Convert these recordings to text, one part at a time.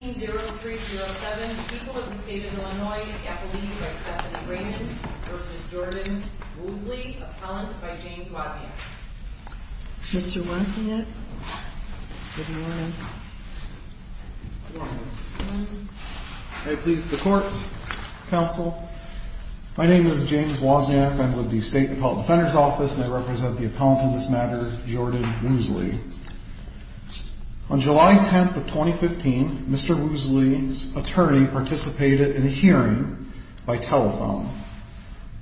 0307, people of the state of Illinois, is the appellee by Stephanie Raymond v. Jordan Woosley, appellant by James Wozniak. Mr. Wozniak, good morning. Good morning. May it please the court, counsel. My name is James Wozniak. I'm with the State Appellate Defender's Office and I represent the appellant in this matter, Jordan Woosley. On July 10th of 2015, Mr. Woosley's attorney participated in a hearing by telephone.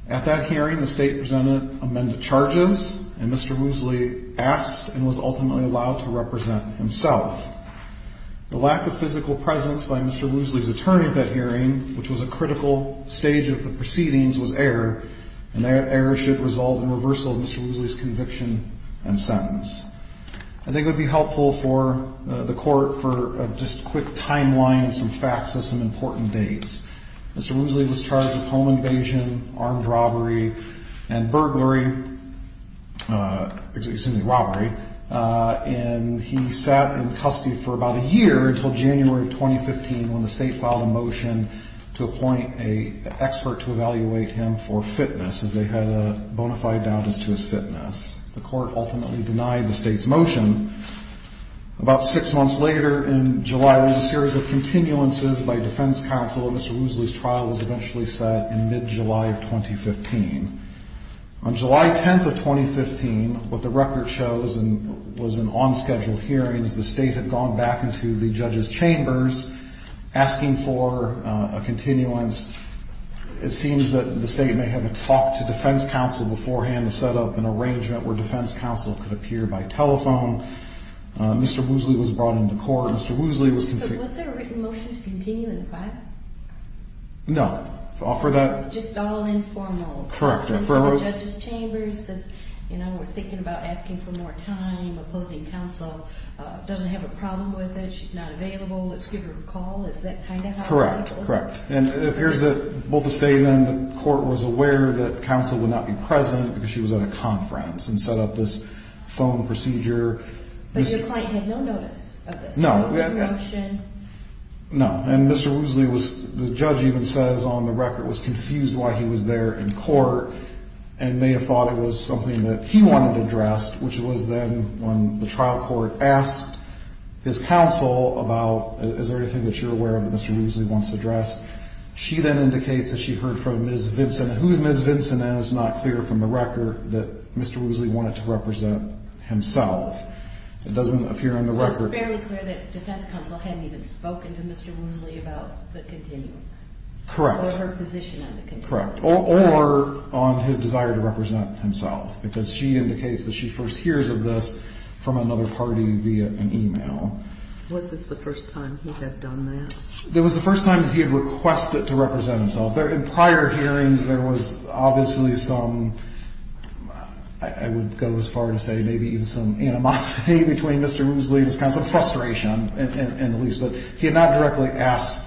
At that hearing, the state presented amended charges and Mr. Woosley asked and was ultimately allowed to represent himself. The lack of physical presence by Mr. Woosley's attorney at that hearing, which was a critical stage of the proceedings, was errored. And that error should result in reversal of Mr. Woosley's conviction and sentence. I think it would be helpful for the court for just a quick timeline, some facts of some important dates. Mr. Woosley was charged with home invasion, armed robbery, and burglary, excuse me, robbery. And he sat in custody for about a year until January of 2015 when the state filed a motion to appoint an expert to evaluate him for fitness, as they had a bona fide doubt as to his fitness. The court ultimately denied the state's motion. About six months later in July, there was a series of continuances by defense counsel and Mr. Woosley's trial was eventually set in mid-July of 2015. On July 10th of 2015, what the record shows was an on-scheduled hearing as the state had gone back into the judge's chambers asking for a continuance. It seems that the state may have had a talk to defense counsel beforehand to set up an arrangement where defense counsel could appear by telephone. Mr. Woosley was brought into court. Mr. Woosley was... So was there a written motion to continue in private? No. Just all informal. Correct. In front of the judge's chambers, says, you know, we're thinking about asking for more time, opposing counsel, doesn't have a problem with it, she's not available, let's give her a call. Is that kind of how... Correct, correct. And here's the... Well, the statement, the court was aware that counsel would not be present because she was at a conference and set up this phone procedure. But your client had no notice of this? No. No. And Mr. Woosley was... The judge even says on the record was confused why he was there in court and may have thought it was something that he wanted addressed, which was then when the trial court asked his counsel about, is there anything that you're aware of that Mr. Woosley wants addressed? She then indicates that she heard from Ms. Vinson, who Ms. Vinson is not clear from the record that Mr. Woosley wanted to represent himself. It doesn't appear on the record... So it's fairly clear that defense counsel hadn't even spoken to Mr. Woosley about the continuance? Correct. Or her position on the continuance? Correct. Or on his desire to represent himself, because she indicates that she first hears of this from another party via an email. Was this the first time he had done that? It was the first time that he had requested to represent himself. In prior hearings, there was obviously some, I would go as far as to say maybe even some animosity between Mr. Woosley, some frustration in the least, but he had not directly asked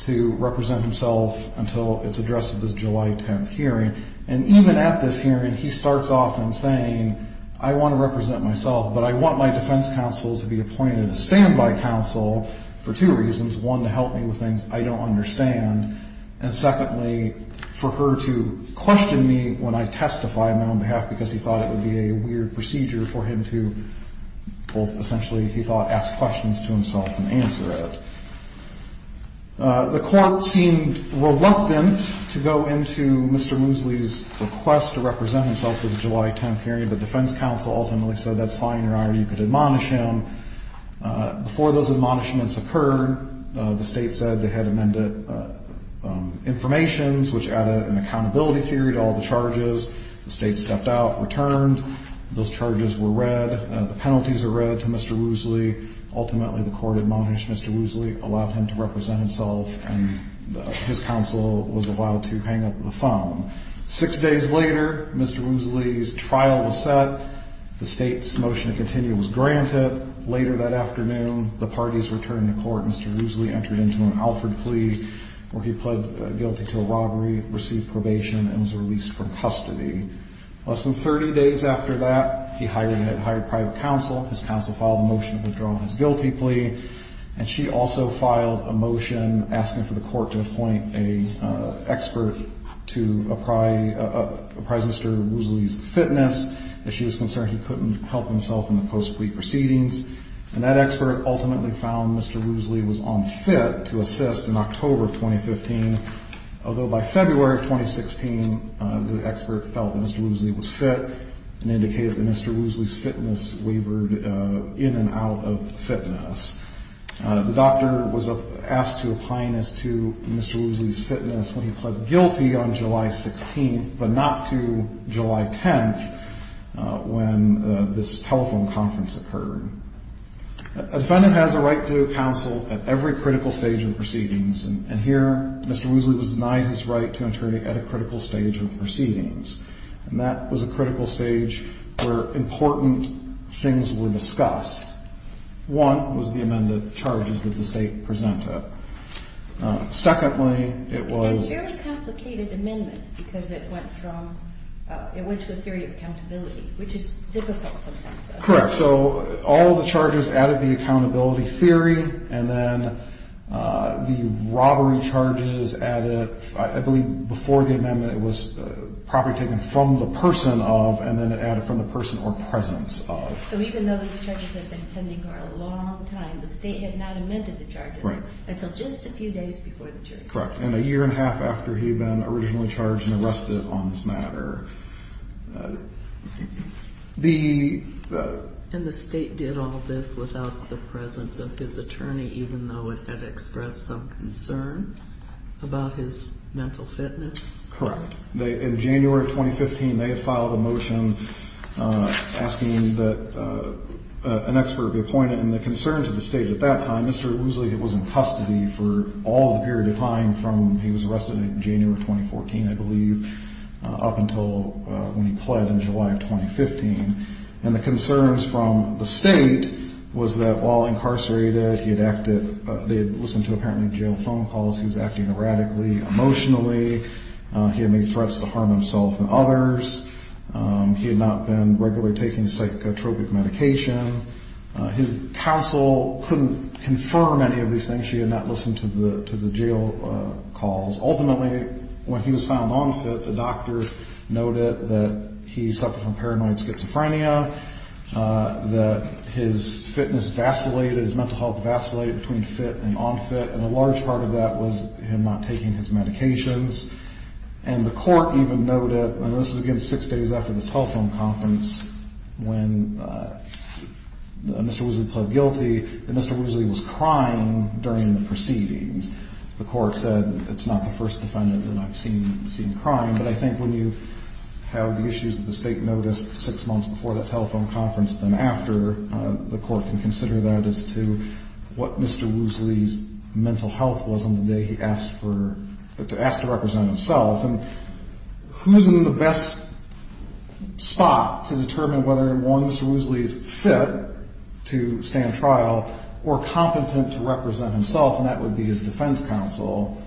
to represent himself until it's addressed at this July 10th hearing. And even at this hearing, he starts off in saying, I want to represent myself, but I want my defense counsel to be appointed a standby counsel for two reasons. One, to help me with things I don't understand, and secondly, for her to question me when I testify on my own behalf because he thought it would be a weird procedure for him to both essentially, he thought, ask questions to himself and answer it. The court seemed reluctant to go into Mr. Woosley's request to represent himself at the July 10th hearing, but defense counsel ultimately said, that's fine, Your Honor, you could admonish him. Before those admonishments occurred, the State said they had amended informations, which added an accountability theory to all the charges. The State stepped out, returned, those charges were read, the penalties were read to Mr. Woosley. Ultimately, the court admonished Mr. Woosley, allowed him to represent himself, and his counsel was allowed to hang up the phone. Six days later, Mr. Woosley's trial was set, the State's motion to continue was granted. Later that afternoon, the parties returned to court. Mr. Woosley entered into an Alford plea where he pled guilty to a robbery, received probation, and was released from custody. Less than 30 days after that, he hired private counsel. His counsel filed a motion to withdraw his guilty plea, and she also filed a motion asking for the court to appoint an expert to apprise Mr. Woosley's fitness. As she was concerned, he couldn't help himself in the post-plea proceedings. Mr. Woosley was on fit to assist in October of 2015, although by February of 2016, the expert felt that Mr. Woosley was fit and indicated that Mr. Woosley's fitness wavered in and out of fitness. The doctor was asked to apply as to Mr. Woosley's fitness when he pled guilty on July 16th, but not to July 10th when this telephone conference occurred. A defendant has a right to counsel at every critical stage of the proceedings, and here, Mr. Woosley was denied his right to interrogate at a critical stage of the proceedings. And that was a critical stage where important things were discussed. One was the amended charges that the State presented. Secondly, it was... And fairly complicated amendments, because it went from, it went to a theory of accountability, which is difficult sometimes. Correct. So all the charges added the accountability theory, and then the robbery charges added, I believe, before the amendment, it was property taken from the person of, and then it added from the person or presence of. So even though these charges had been pending for a long time, the State had not amended the charges until just a few days before the jury trial. Correct. And a year and a half after he had been originally charged and arrested on this matter. And the State did all this without the presence of his attorney, even though it had expressed some concern about his mental fitness? Correct. In January of 2015, they had filed a motion asking that an expert be appointed. And the concern to the State at that time, Mr. Woosley was in custody for all the period of time from he was arrested in January of 2014, I believe, up until when he pled in July of 2015. And the concerns from the State was that while incarcerated, he had acted, they had listened to apparently jail phone calls. He was acting erratically emotionally. He had made threats to harm himself and others. He had not been regularly taking psychotropic medication. His counsel couldn't confirm any of these things. She had not listened to the jail calls. Ultimately, when he was found on fit, the doctors noted that he suffered from paranoid schizophrenia, that his fitness vacillated, his mental health vacillated between fit and on fit. And a large part of that was him not taking his medications. And the court even noted, and this is, again, six days after this telephone conference, when Mr. Woosley pled guilty, that Mr. Woosley was crying during the proceedings. The court said, it's not the first defendant that I've seen crying. But I think when you have the issues that the State noticed six months before that telephone conference, then after, the court can consider that as to what Mr. Woosley's mental health was. On the day he asked to represent himself. And who's in the best spot to determine whether one, Mr. Woosley's fit to stand trial or competent to represent himself. And that would be his defense counsel,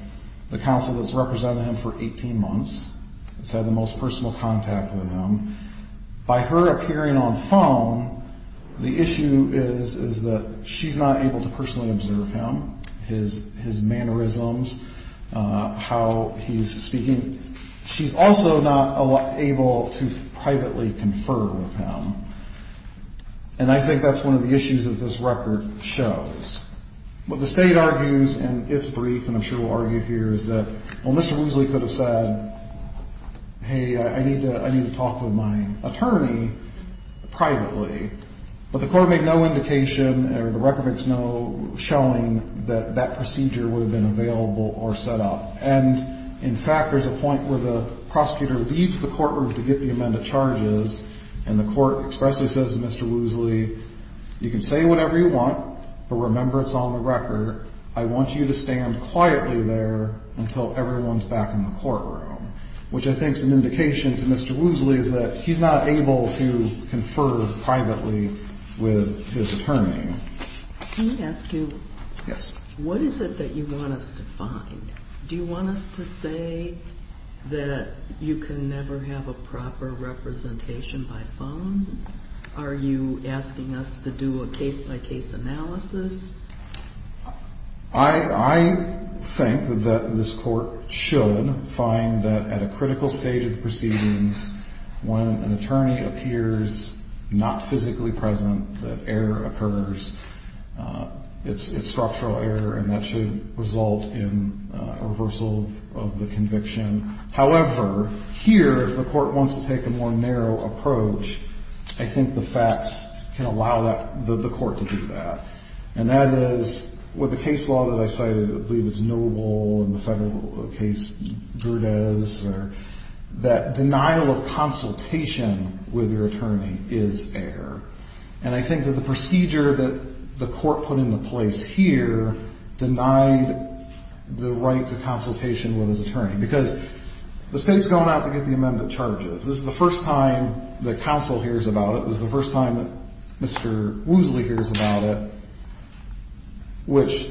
the counsel that's represented him for 18 months, has had the most personal contact with him. By her appearing on phone, the issue is, is that she's not able to personally observe him. How he's behaving, his mannerisms, how he's speaking. She's also not able to privately confer with him. And I think that's one of the issues that this record shows. What the State argues in its brief, and I'm sure we'll argue here, is that, well, Mr. Woosley could have said, hey, I need to talk with my attorney privately. But the court made no indication, or the record makes no showing, that that procedure would have been available or set up. And, in fact, there's a point where the prosecutor leaves the courtroom to get the amended charges. And the court expressly says to Mr. Woosley, you can say whatever you want, but remember it's on the record. I want you to stand quietly there until everyone's back in the courtroom. Which I think is an indication to Mr. Woosley is that he's not able to confer privately with his attorney. Can I ask you, what is it that you want us to find? Do you want us to say that you can never have a proper representation by phone? Are you asking us to do a case-by-case analysis? I think that this court should find that at a critical stage of the proceedings, when an attorney appears not physically present, that error occurs. It's structural error, and that should result in a reversal of the conviction. However, here, if the court wants to take a more narrow approach, I think the facts can allow the court to do that. And that is, with the case law that I cited, I believe it's Noble and the federal case, Verdez, that denial of consultation with your attorney is error. And I think that the procedure that the court put into place here denied the right to consultation with his attorney. Because the state's gone out to get the amended charges. This is the first time that counsel hears about it. This is the first time that Mr. Woosley hears about it, which,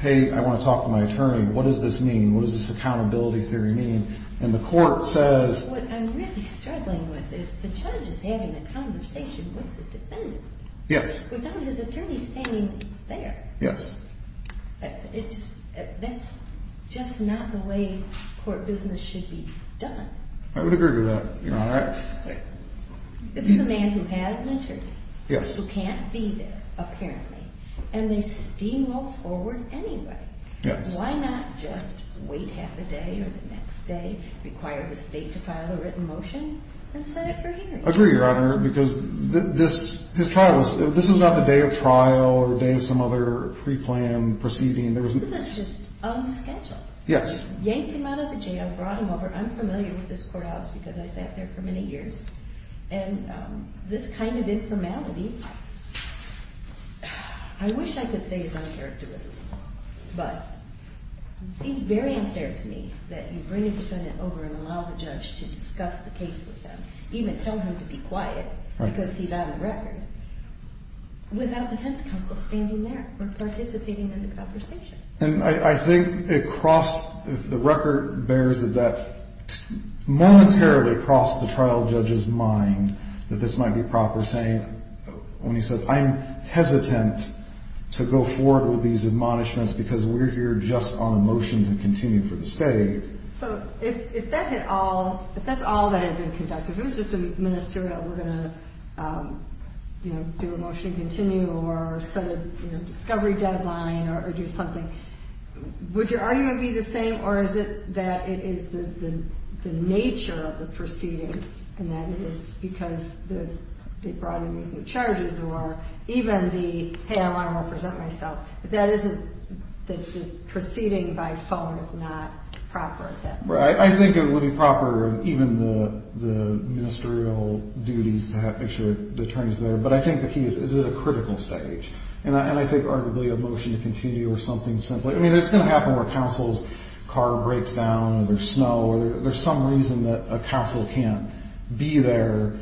hey, I want to talk to my attorney. What does this mean? What does this accountability theory mean? And the court says... Yes. I would agree with that, Your Honor. Yes. Yes. I agree, Your Honor, because this trial was... Yes. I wish I could say it's uncharacteristic, but it seems very unfair to me that you bring a defendant over and allow the judge to discuss the case with them, even tell him to be quiet because he's out of the record, without defense counsel standing there or participating in the conversation. And I think it crossed... The record bears that that momentarily crossed the trial judge's mind that this might be proper, saying, when he said, I'm hesitant to go forward with these admonishments because we're here just on a motion to continue for the state. So if that's all that had been conducted, if it was just a ministerial, we're going to do a motion to continue or set a discovery deadline or do something, would your argument be the same, or is it that it is the nature of the proceeding and that it is because they brought in these new charges or even the, hey, I want to represent myself, that isn't... The proceeding by phone is not proper at that point. I think it would be proper, even the ministerial duties to make sure the attorney's there, but I think the key is, is it a critical stage? And I think arguably a motion to continue or something simply... I mean, it's going to happen where counsel's car breaks down or there's snow or there's some reason that a counsel can't be there,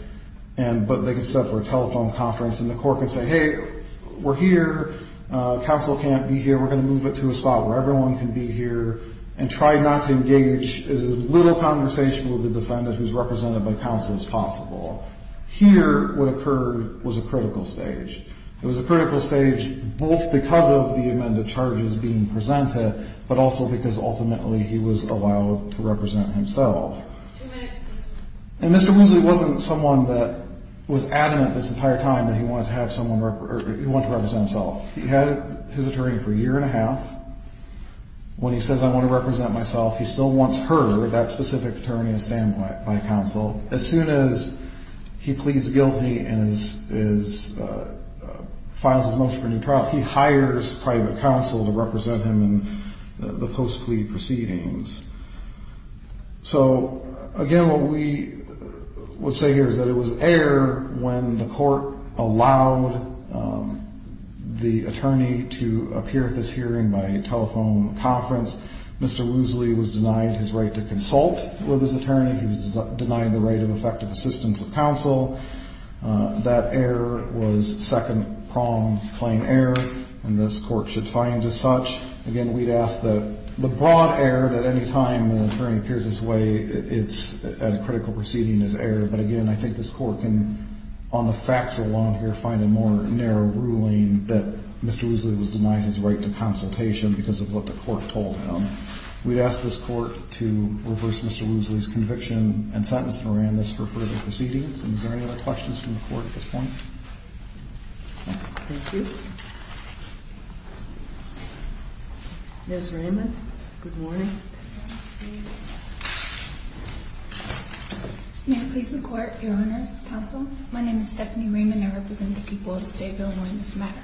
but they can set up for a telephone conference and the court can say, hey, we're here. Counsel can't be here. We're going to move it to a spot where everyone can be here and try not to engage as little conversation with the defendant who's represented by counsel as possible. Here what occurred was a critical stage. It was a critical stage both because of the amended charges being presented, but also because ultimately he was allowed to represent himself. And Mr. Woosley wasn't someone that was adamant this entire time that he wanted to represent himself. He had his attorney for a year and a half. When he says, I want to represent myself, he still wants her, that specific attorney to stand by counsel. As soon as he pleads guilty and files his motion for new trial, he hires private counsel to represent him in the post-plea proceedings. So again, what we would say here is that it was error when the court allowed the attorney to appear at this hearing by telephone conference. Mr. Woosley was denied his right to consult with his attorney. He was denied the right of effective assistance of counsel. That error was second-pronged claim error, and this court should find as such. Again, we'd ask that the broad error that any time an attorney appears this way at a critical proceeding is error. But again, I think this court can, on the facts along here, find a more narrow ruling that Mr. Woosley was denied his right to consultation because of what the court told him. We'd ask this court to reverse Mr. Woosley's conviction and sentence Miranda's for further proceedings. And is there any other questions from the court at this point? Thank you. Ms. Raymond, good morning. May I please the court, your honors, counsel? My name is Stephanie Raymond. I represent the people of the state of Illinois in this matter.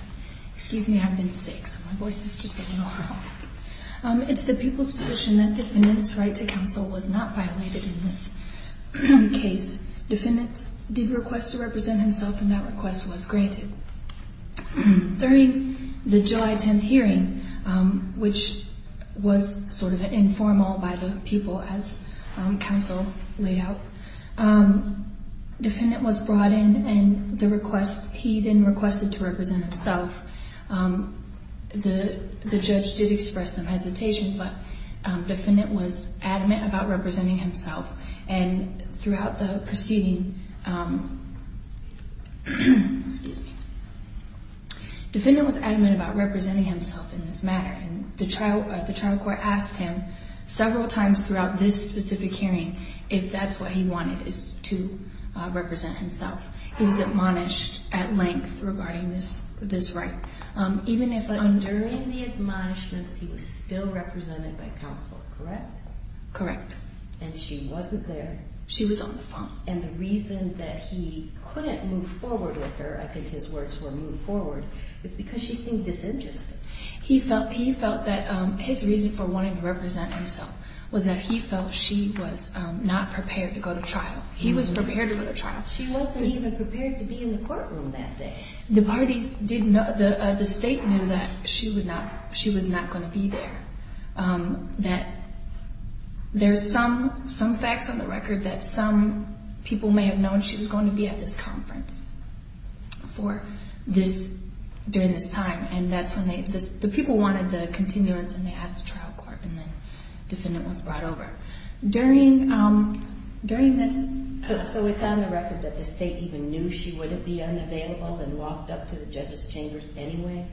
Excuse me, I've been sick, so my voice is just a little hoarse. It's the people's position that the defendant's right to counsel was not violated in this case. Defendants did request to represent himself, and that request was granted. During the July 10th hearing, which was sort of informal by the people as counsel laid out, the defendant was brought in and he then requested to represent himself. The judge did express some hesitation, but the defendant was adamant about representing himself. Throughout the proceeding, the defendant was adamant about representing himself in this matter. The trial court asked him several times throughout this specific hearing if that's what he wanted, to represent himself. He was admonished at length regarding this right. During the admonishments, he was still represented by counsel, correct? Correct. And she wasn't there? She was on the phone. And the reason that he couldn't move forward with her, I think his words were move forward, was because she seemed disinterested. He felt that his reason for wanting to represent himself was that he felt she was not prepared to go to trial. He was prepared to go to trial. She wasn't even prepared to be in the courtroom that day. The state knew that she was not going to be there. There's some facts on the record that some people may have known she was going to be at this conference during this time. The people wanted the continuance and they asked the trial court and the defendant was brought over. So it's on the record that the state even knew she wouldn't be unavailable and walked up to the judges chambers anyway?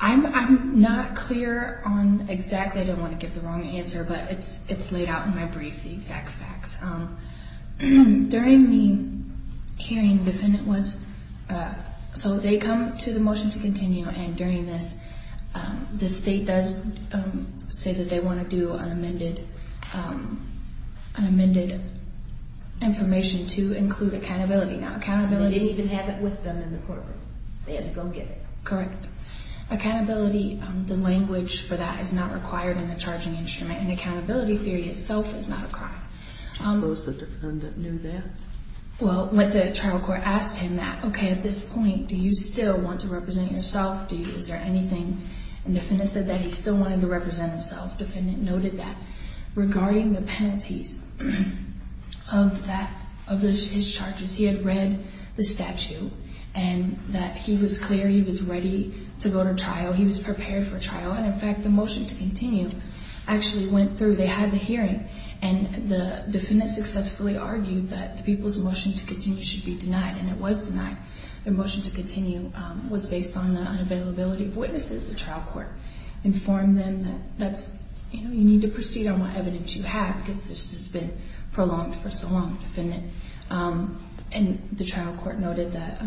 I'm not clear on exactly. I don't want to give the wrong answer, but it's So they come to the motion to continue and during this, the state does say that they want to do an amended information to include accountability. They didn't even have it with them in the courtroom. They had to go get it. Correct. Accountability, the language for that is not required in the charging instrument and accountability theory itself is not a crime. I suppose the defendant knew that. Well, when the trial court asked him that, okay, at this point, do you still want to represent yourself? Is there anything that he still wanted to represent himself? The defendant noted that regarding the penalties of his charges, he had read the statute and that he was clear he was ready to go to trial. He was prepared for trial and in fact the motion to continue actually went through. They had the hearing and the defendant successfully argued that the people's motion to continue should be denied and it was denied. The motion to continue was based on the unavailability of witnesses. The trial court informed them that you need to proceed on what evidence you have because this has been prolonged for so long. The trial court noted that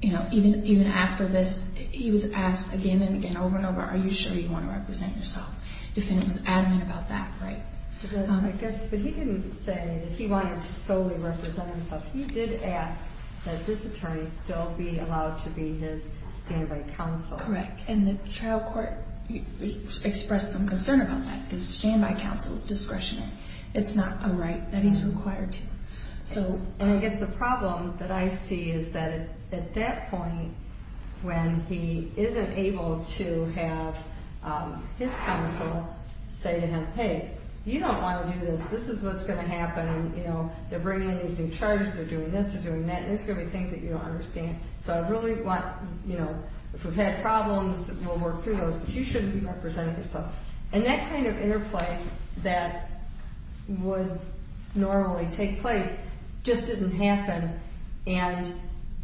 even after this, he was asked again and again over and over, are you sure you want to represent yourself? The defendant was adamant about that. I guess he didn't say he wanted to solely represent himself. He did ask that this attorney still be allowed to be his stand-by counsel. Correct. And the trial court expressed some concern about that because stand-by counsel is discretionary. It's not a right that he's required to. And I guess the problem that I see is that at that point when he isn't able to have his counsel say to him, hey, you don't want to do this. This is what's going to happen. They're bringing in these new charges. They're doing this. They're doing that. There's going to be things that you don't understand. So I really want, you know, if we've had problems, we'll work through those. But you shouldn't be representing yourself. And that kind of interplay that would normally take place just didn't happen. And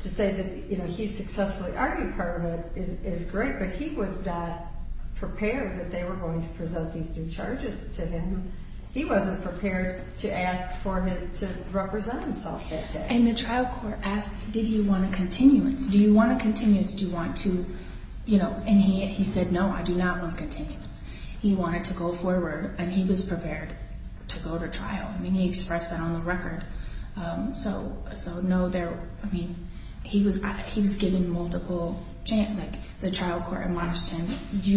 to say that he successfully argued part of it is great, but he was not prepared that they were going to present these new charges to him. He wasn't prepared to ask for him to represent himself that day. And the trial court asked did he want a continuance? Do you want a continuance? Do you want to, you know, and he said, no, I do not want a continuance. He wanted to go forward and he was prepared to go to trial. I mean, he expressed that on the record. So no, there, I mean, he was, he was given multiple the trial court and watched him.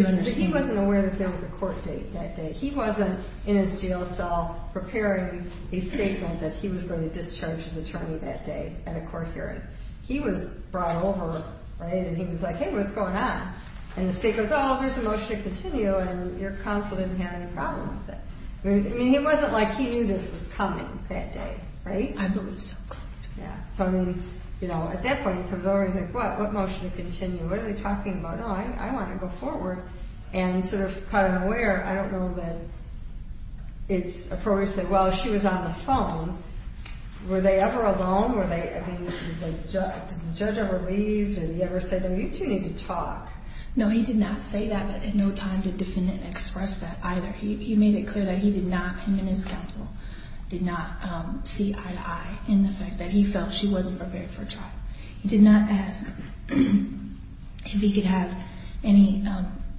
But he wasn't aware that there was a court date that day. He wasn't in his jail cell preparing a statement that he was going to discharge his attorney that day at a court hearing. He was brought over, right? And he was like, hey, what's going on? And the state goes, oh, there's a motion to continue and your counsel didn't have any problem with it. I mean, it wasn't like he knew this was coming that day. Right? I believe so. Yeah. So, I mean, you know, at that point he comes over and he's like, what, what motion to continue? What are they talking about? No, I want to go forward and sort of caught him aware. I don't know that it's appropriate to say, well, she was on the phone. Were they ever alone? Were they, I mean, did the judge ever leave? Did he ever say to them, you two need to talk? No, he did not say that. At no time did the defendant express that either. He made it clear that he did not, him and his counsel, did not see eye to eye in the fact that he felt she wasn't prepared for trial. He did not ask if he could have any,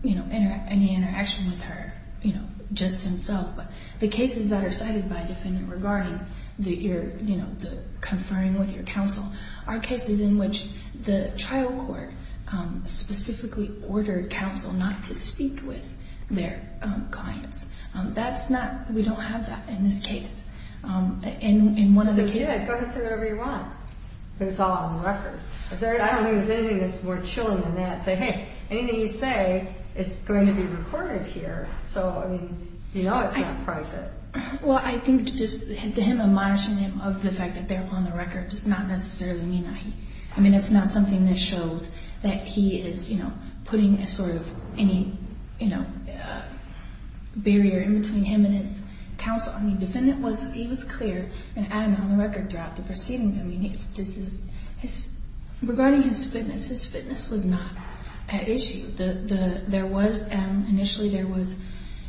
you know, any interaction with her, you know, just himself. But the cases that are cited by a defendant regarding the, you know, the conferring with your counsel are cases in which the trial court specifically ordered counsel not to speak with their clients. That's not, we don't have that in this case. In one of the cases. Yeah, go ahead and say whatever you want, but it's all on the record. I don't think there's anything that's more chilling than that. Say, hey, anything you say is going to be recorded here. So, I mean, you know it's not like that. Well, I think just him admonishing him of the fact that they're on the record does not necessarily mean that he, I mean, it's not something that shows that he is, you know, putting a sort of any, you know, barrier in between him and his counsel. I mean, the defendant was, he was clear and had him on the record throughout the proceedings. I mean, this is his, regarding his fitness, his fitness was not an issue. There was, initially there was,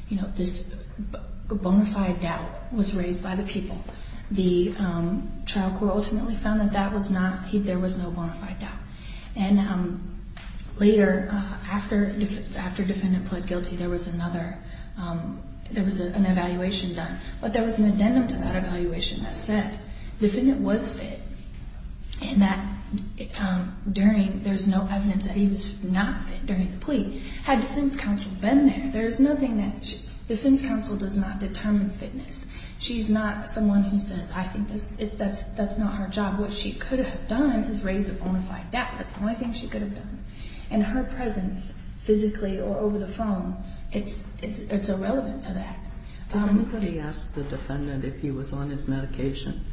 you know, this bona fide doubt was raised by the people. The trial court ultimately found that that was not, there was no bona fide doubt. And later, after defendant pled guilty, there was another, there was an evaluation done. But there was an addendum to that evaluation that said defendant was fit and that during, there's no evidence that he was not fit during the plea. Had defense counsel been there, there's nothing that, defense counsel does not determine fitness. She's not someone who says, I think that's not her job. What she could have done is raised a bona fide doubt. That's the only thing she could have done. And her presence, physically or over the phone, it's irrelevant to that. Did anybody ask the defendant if he was on his medication?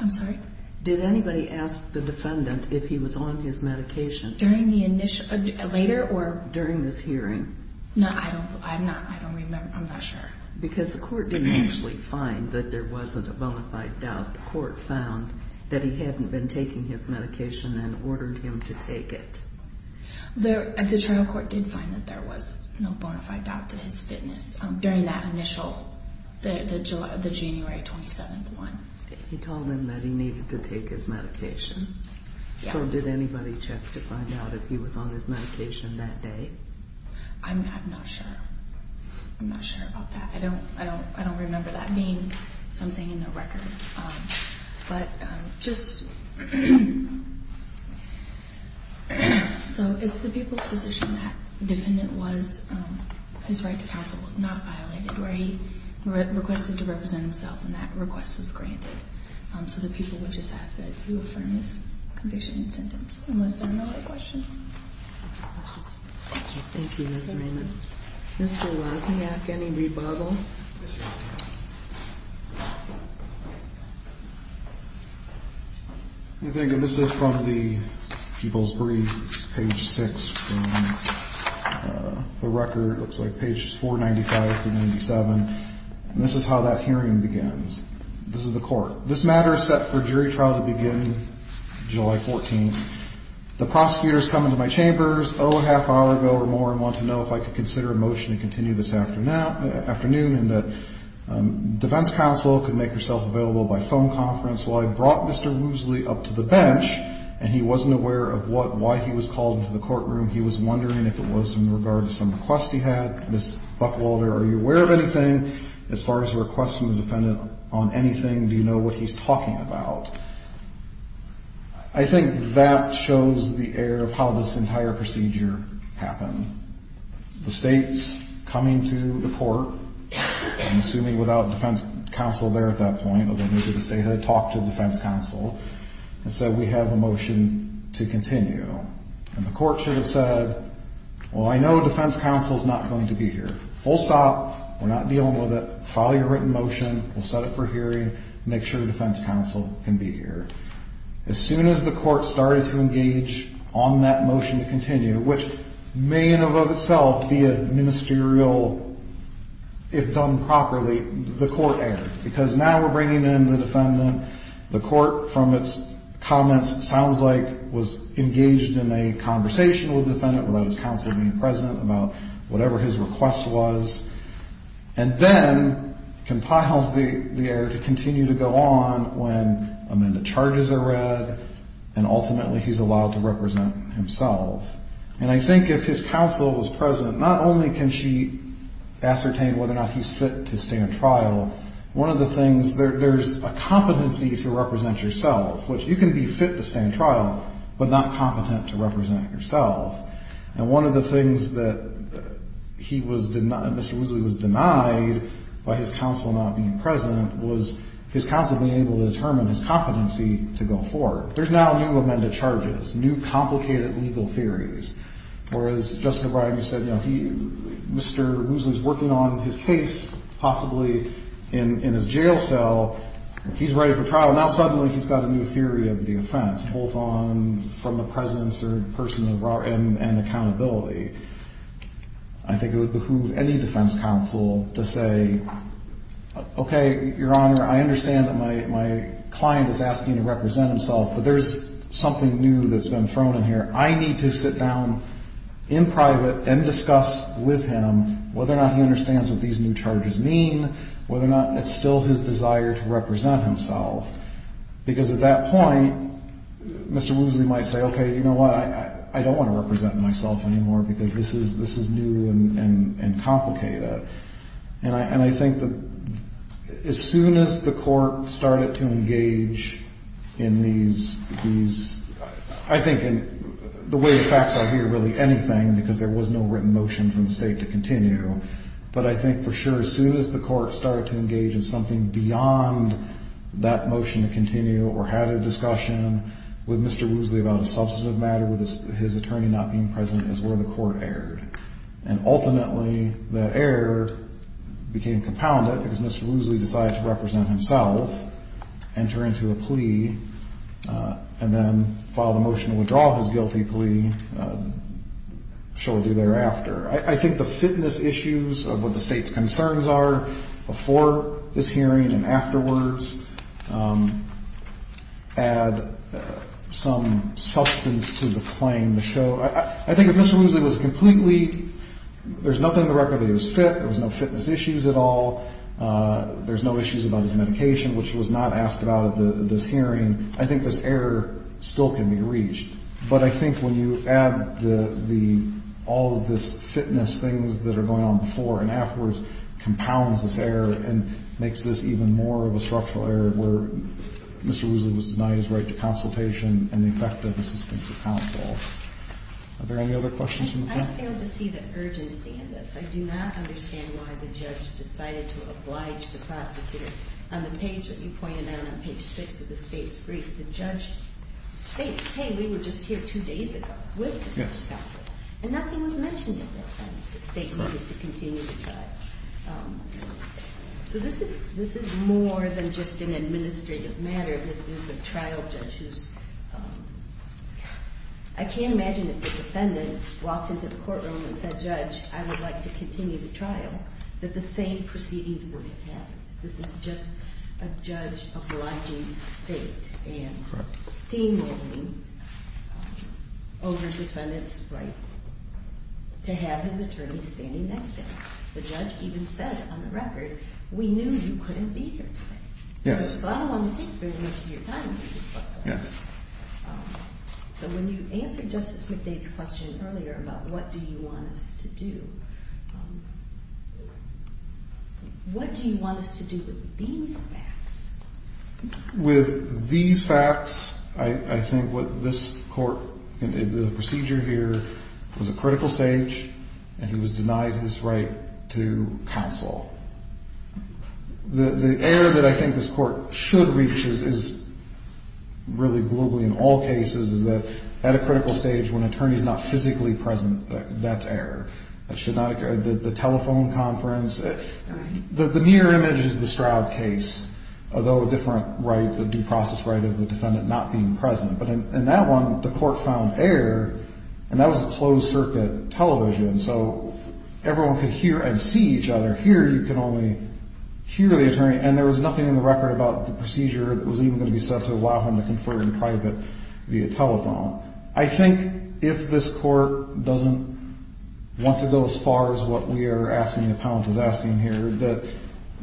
I'm sorry? Did anybody ask the defendant if he was on his medication? During the initial, later or? During this hearing. No, I don't, I don't remember. I'm not sure. Because the court didn't actually find that there wasn't a bona fide doubt. The court found that he hadn't been taking his bona fide doubt to his fitness during that initial, the January 27th one. He told them that he needed to take his medication? Yeah. So did anybody check to find out if he was on his medication that day? I'm not sure. I'm not sure about that. I don't, I don't remember that being something in the record. But just, so it's the people's position that the defendant was, his rights counsel was not violated, where he requested to represent himself and that request was granted. So the people would just ask that he affirm his conviction and sentence. Unless there are no other questions? Thank you, Ms. Raymond. Mr. Wozniak, any rebuttal? I think this is from the people's briefs, page six from the record. It looks like page 495 through 97. And this is how that hearing begins. This is the court. This matter is set for jury trial to begin July 14th. The prosecutors come into my chambers, oh, a half hour ago or more and want to know if I could consider a motion to continue this afternoon and that defense counsel could make herself available by phone conference. Well, I brought Mr. Woosley up to the bench and he wasn't aware of what, why he was called into the courtroom. He was wondering if it was in regard to some request he had. Ms. Buckwalter, are you aware of anything? As far as the request from the defendant on anything, do you know what he's talking about? I think that shows the air of how this entire procedure happened. The state's coming to the court, I'm assuming without defense counsel there at that point, although maybe the state had talked to defense counsel, and said we have a motion to continue. And the court should have said, well, I know defense counsel's not going to be here. Full stop. We're not dealing with it. File your written motion. We'll set it for hearing. Make sure defense counsel can be here. As soon as the court started to engage on that motion to continue, which may in and of itself be a ministerial, if done properly, the court erred. Because now we're bringing in the defendant, the court from its comments sounds like was engaged in a conversation with the defendant without his counsel being present about whatever his request was. And then compiles the error to continue to go on when amended charges are read and ultimately he's allowed to represent himself. And I think if his counsel was present, not only can she ascertain whether or not he's fit to stay in trial, one of the things, there's a competency to represent yourself, which you can be fit to stay in trial, but not competent to represent yourself. And one of the things that he was denied, Mr. Woosley was denied by his counsel not being present was his counsel being able to determine his competency to go forward. There's now new amended charges, new complicated legal theories. Whereas, Justice O'Brien, you said, Mr. Woosley's working on his case, possibly in his jail cell, he's ready for trial, now suddenly he's got a new theory of the offense, both on, from the presence or person of, and accountability. I think it would behoove any defense counsel to say, okay, your Honor, I understand that my client is asking to represent himself, but there's something new that's been thrown in here. I need to sit down in private and discuss with him whether or not he understands what these new charges mean, whether or not it's still his desire to represent himself. Because at that point, Mr. Woosley might say, okay, you know what, I don't want to represent myself anymore because this is new and complicated. And I think that as soon as the Court started to engage in these, I think in the way it facts out here, really anything, because there was no written motion from the State to continue. But I think for sure as soon as the Court started to engage in something beyond that motion to continue or had a discussion with Mr. Woosley about a substantive matter with his attorney not being present is where the Court erred. And ultimately, that motion didn't end up with a guilty plea. And then file the motion to withdraw his guilty plea shortly thereafter. I think the fitness issues of what the State's concerns are before this hearing and afterwards add some substance to the claim. I think if Mr. Woosley was completely, there's nothing in the record that he was fit. There was no fitness issues at all. There's no issues about his medication, which was not asked about at this hearing. I think this error still can be reached. But I think when you add all of this fitness things that are going on before and afterwards compounds this error and makes this even more of a structural error where Mr. Woosley was denied his right to consultation and the effective assistance of counsel. Are there any other questions? I failed to see the urgency in this. I do not understand why the judge decided to oblige the prosecutor on the page that you pointed out on page 6 of the State's brief. The judge states, hey, we were just here two days ago with defense counsel. And nothing was mentioned at that time. The State needed to continue to try. So this is more than just an administrative matter. This is a trial judge who's, I can't imagine if the defendant walked into the courtroom and said, judge, I would like to continue the trial, that the same proceedings would have happened. This is just a judge obliging the State and steamrolling over the defendant's right to have his attorney standing next to him. The judge even says on the record, we knew you couldn't be here today. Yes. So when you answered Justice McDade's question earlier about what do you want us to do, what do you want us to do with these facts? With these facts, I think what this court, the procedure here, was a critical stage and he was denied his right to counsel. The error that I think this court should reach is really globally in all cases is that at a critical stage when an attorney is not physically present, that's error. That should not occur. The telephone conference, the mirror image is the Stroud case, although a different right, the due process right of the defendant not being present. But in that one, the court found error and that was a closed circuit television. So everyone could hear and see each other. Here you can only hear the attorney and there was nothing in the record about the procedure that was even going to be set up to allow him to go as far as what we are asking the appellant is asking here, that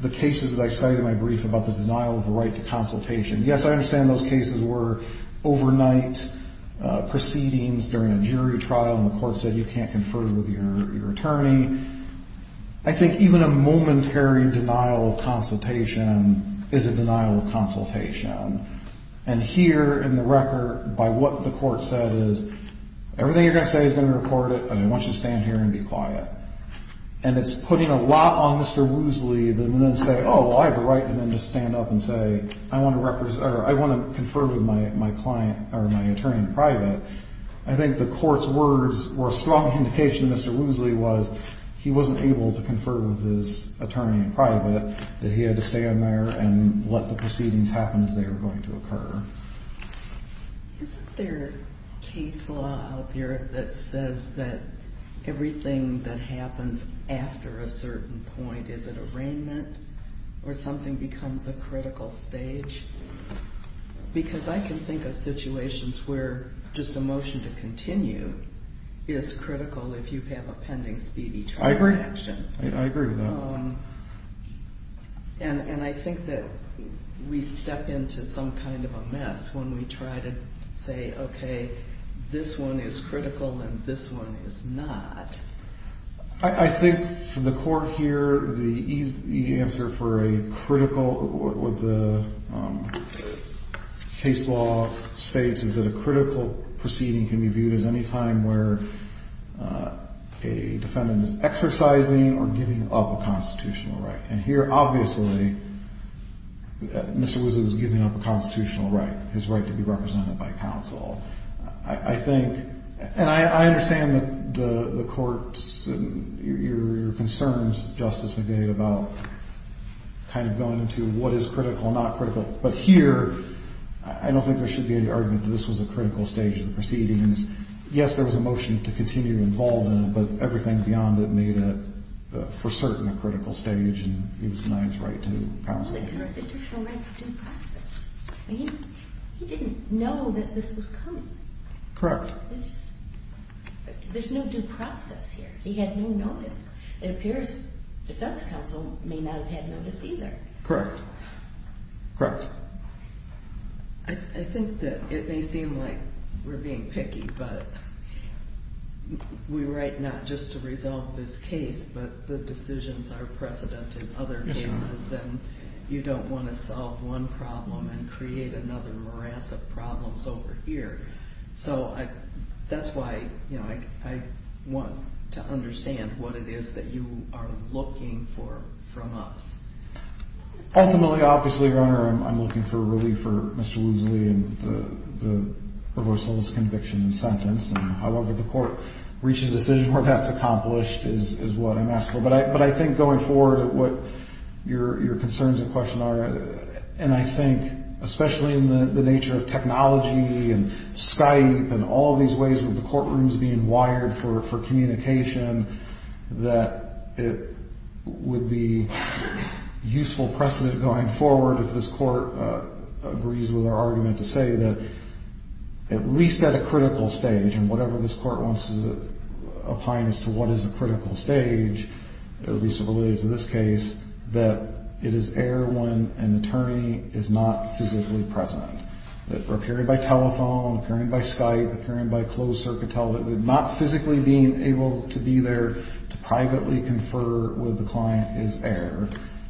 the cases that I cited in my brief about the denial of the right to consultation. Yes, I understand those cases were overnight proceedings during a jury trial and the court said you can't confer with your attorney. I think even a momentary denial of consultation is a denial of consultation. And here in the record, by what the court said is everything you're going to say is going to record it, but I want you to stand here and be quiet. And it's putting a lot on Mr. Woosley than to say, oh, well, I have a right to stand up and say, I want to represent or I want to confer with my client or my attorney in private. I think the court's words were a strong indication. Mr. Woosley was he wasn't able to confer with his attorney in private that he had to stand there and let the proceedings happen as they were going to occur. Is there a case law out there that says that everything that happens after a certain point is an arraignment or something becomes a critical stage? Because I can think of situations where just a motion to continue is critical if you have a pending speedy trial action. I agree. I agree with that. And I think that we step into some kind of a mess when we try to say, okay, this one is critical and this one is not. I think for the court here, the answer for a critical with the case law states is that a critical proceeding can be viewed as any time where a defendant is exercising or giving up a constitutional right. And here, obviously, Mr. Woosley was giving up a constitutional right, his right to be represented by counsel. I think, and I understand that the what is critical and not critical, but here, I don't think there should be any argument that this was a critical stage of the proceedings. Yes, there was a motion to continue involved in it, but everything beyond it made it, for certain, a critical stage and he was denied his right to counsel. It was a constitutional right to due process. He didn't know that this was coming. Correct. There's no due process here. He had no notice. It appears defense counsel may not have had notice either. Correct. Correct. I think that it may seem like we're being picky, but we write not just to resolve this case, but the decisions are precedent in other cases and you don't want to solve one problem and create another morass of problems over here. So that's why I want to understand what it is that you are looking for from us. Ultimately, obviously, Your Honor, I'm looking for relief for Mr. Woosley and the reversal of his conviction and sentence. However, the court reaching a decision where that's accomplished is what I'm asking for. But I think going forward, what your concerns and questions are, and I think, especially in the nature of technology and Skype and all of these ways with the courtrooms being wired for communication, that it would be useful precedent going forward if this court agrees with our argument to say that at least at a critical stage, and whatever this court wants to apply as to what is a critical stage, at least related to this case, that it is air when an attorney is not physically present. That appearing by telephone, appearing by Skype, appearing by closed-circuit television, not physically being able to be there to privately confer with the client is air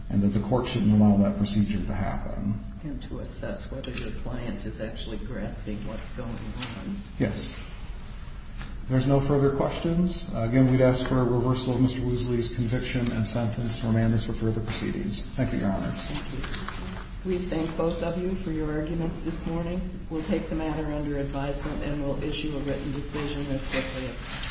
and that the court shouldn't allow that procedure to happen. And to assess whether your client is actually grasping what's going on. Yes. If there's no further questions, again, we'd ask for a reversal of Mr. Woosley's conviction and sentence to remain as for further proceedings. Thank you, Your Honor. Thank you. We thank both of you for your arguments this morning. We'll take the matter under advisement and we'll issue a written decision as quickly as possible.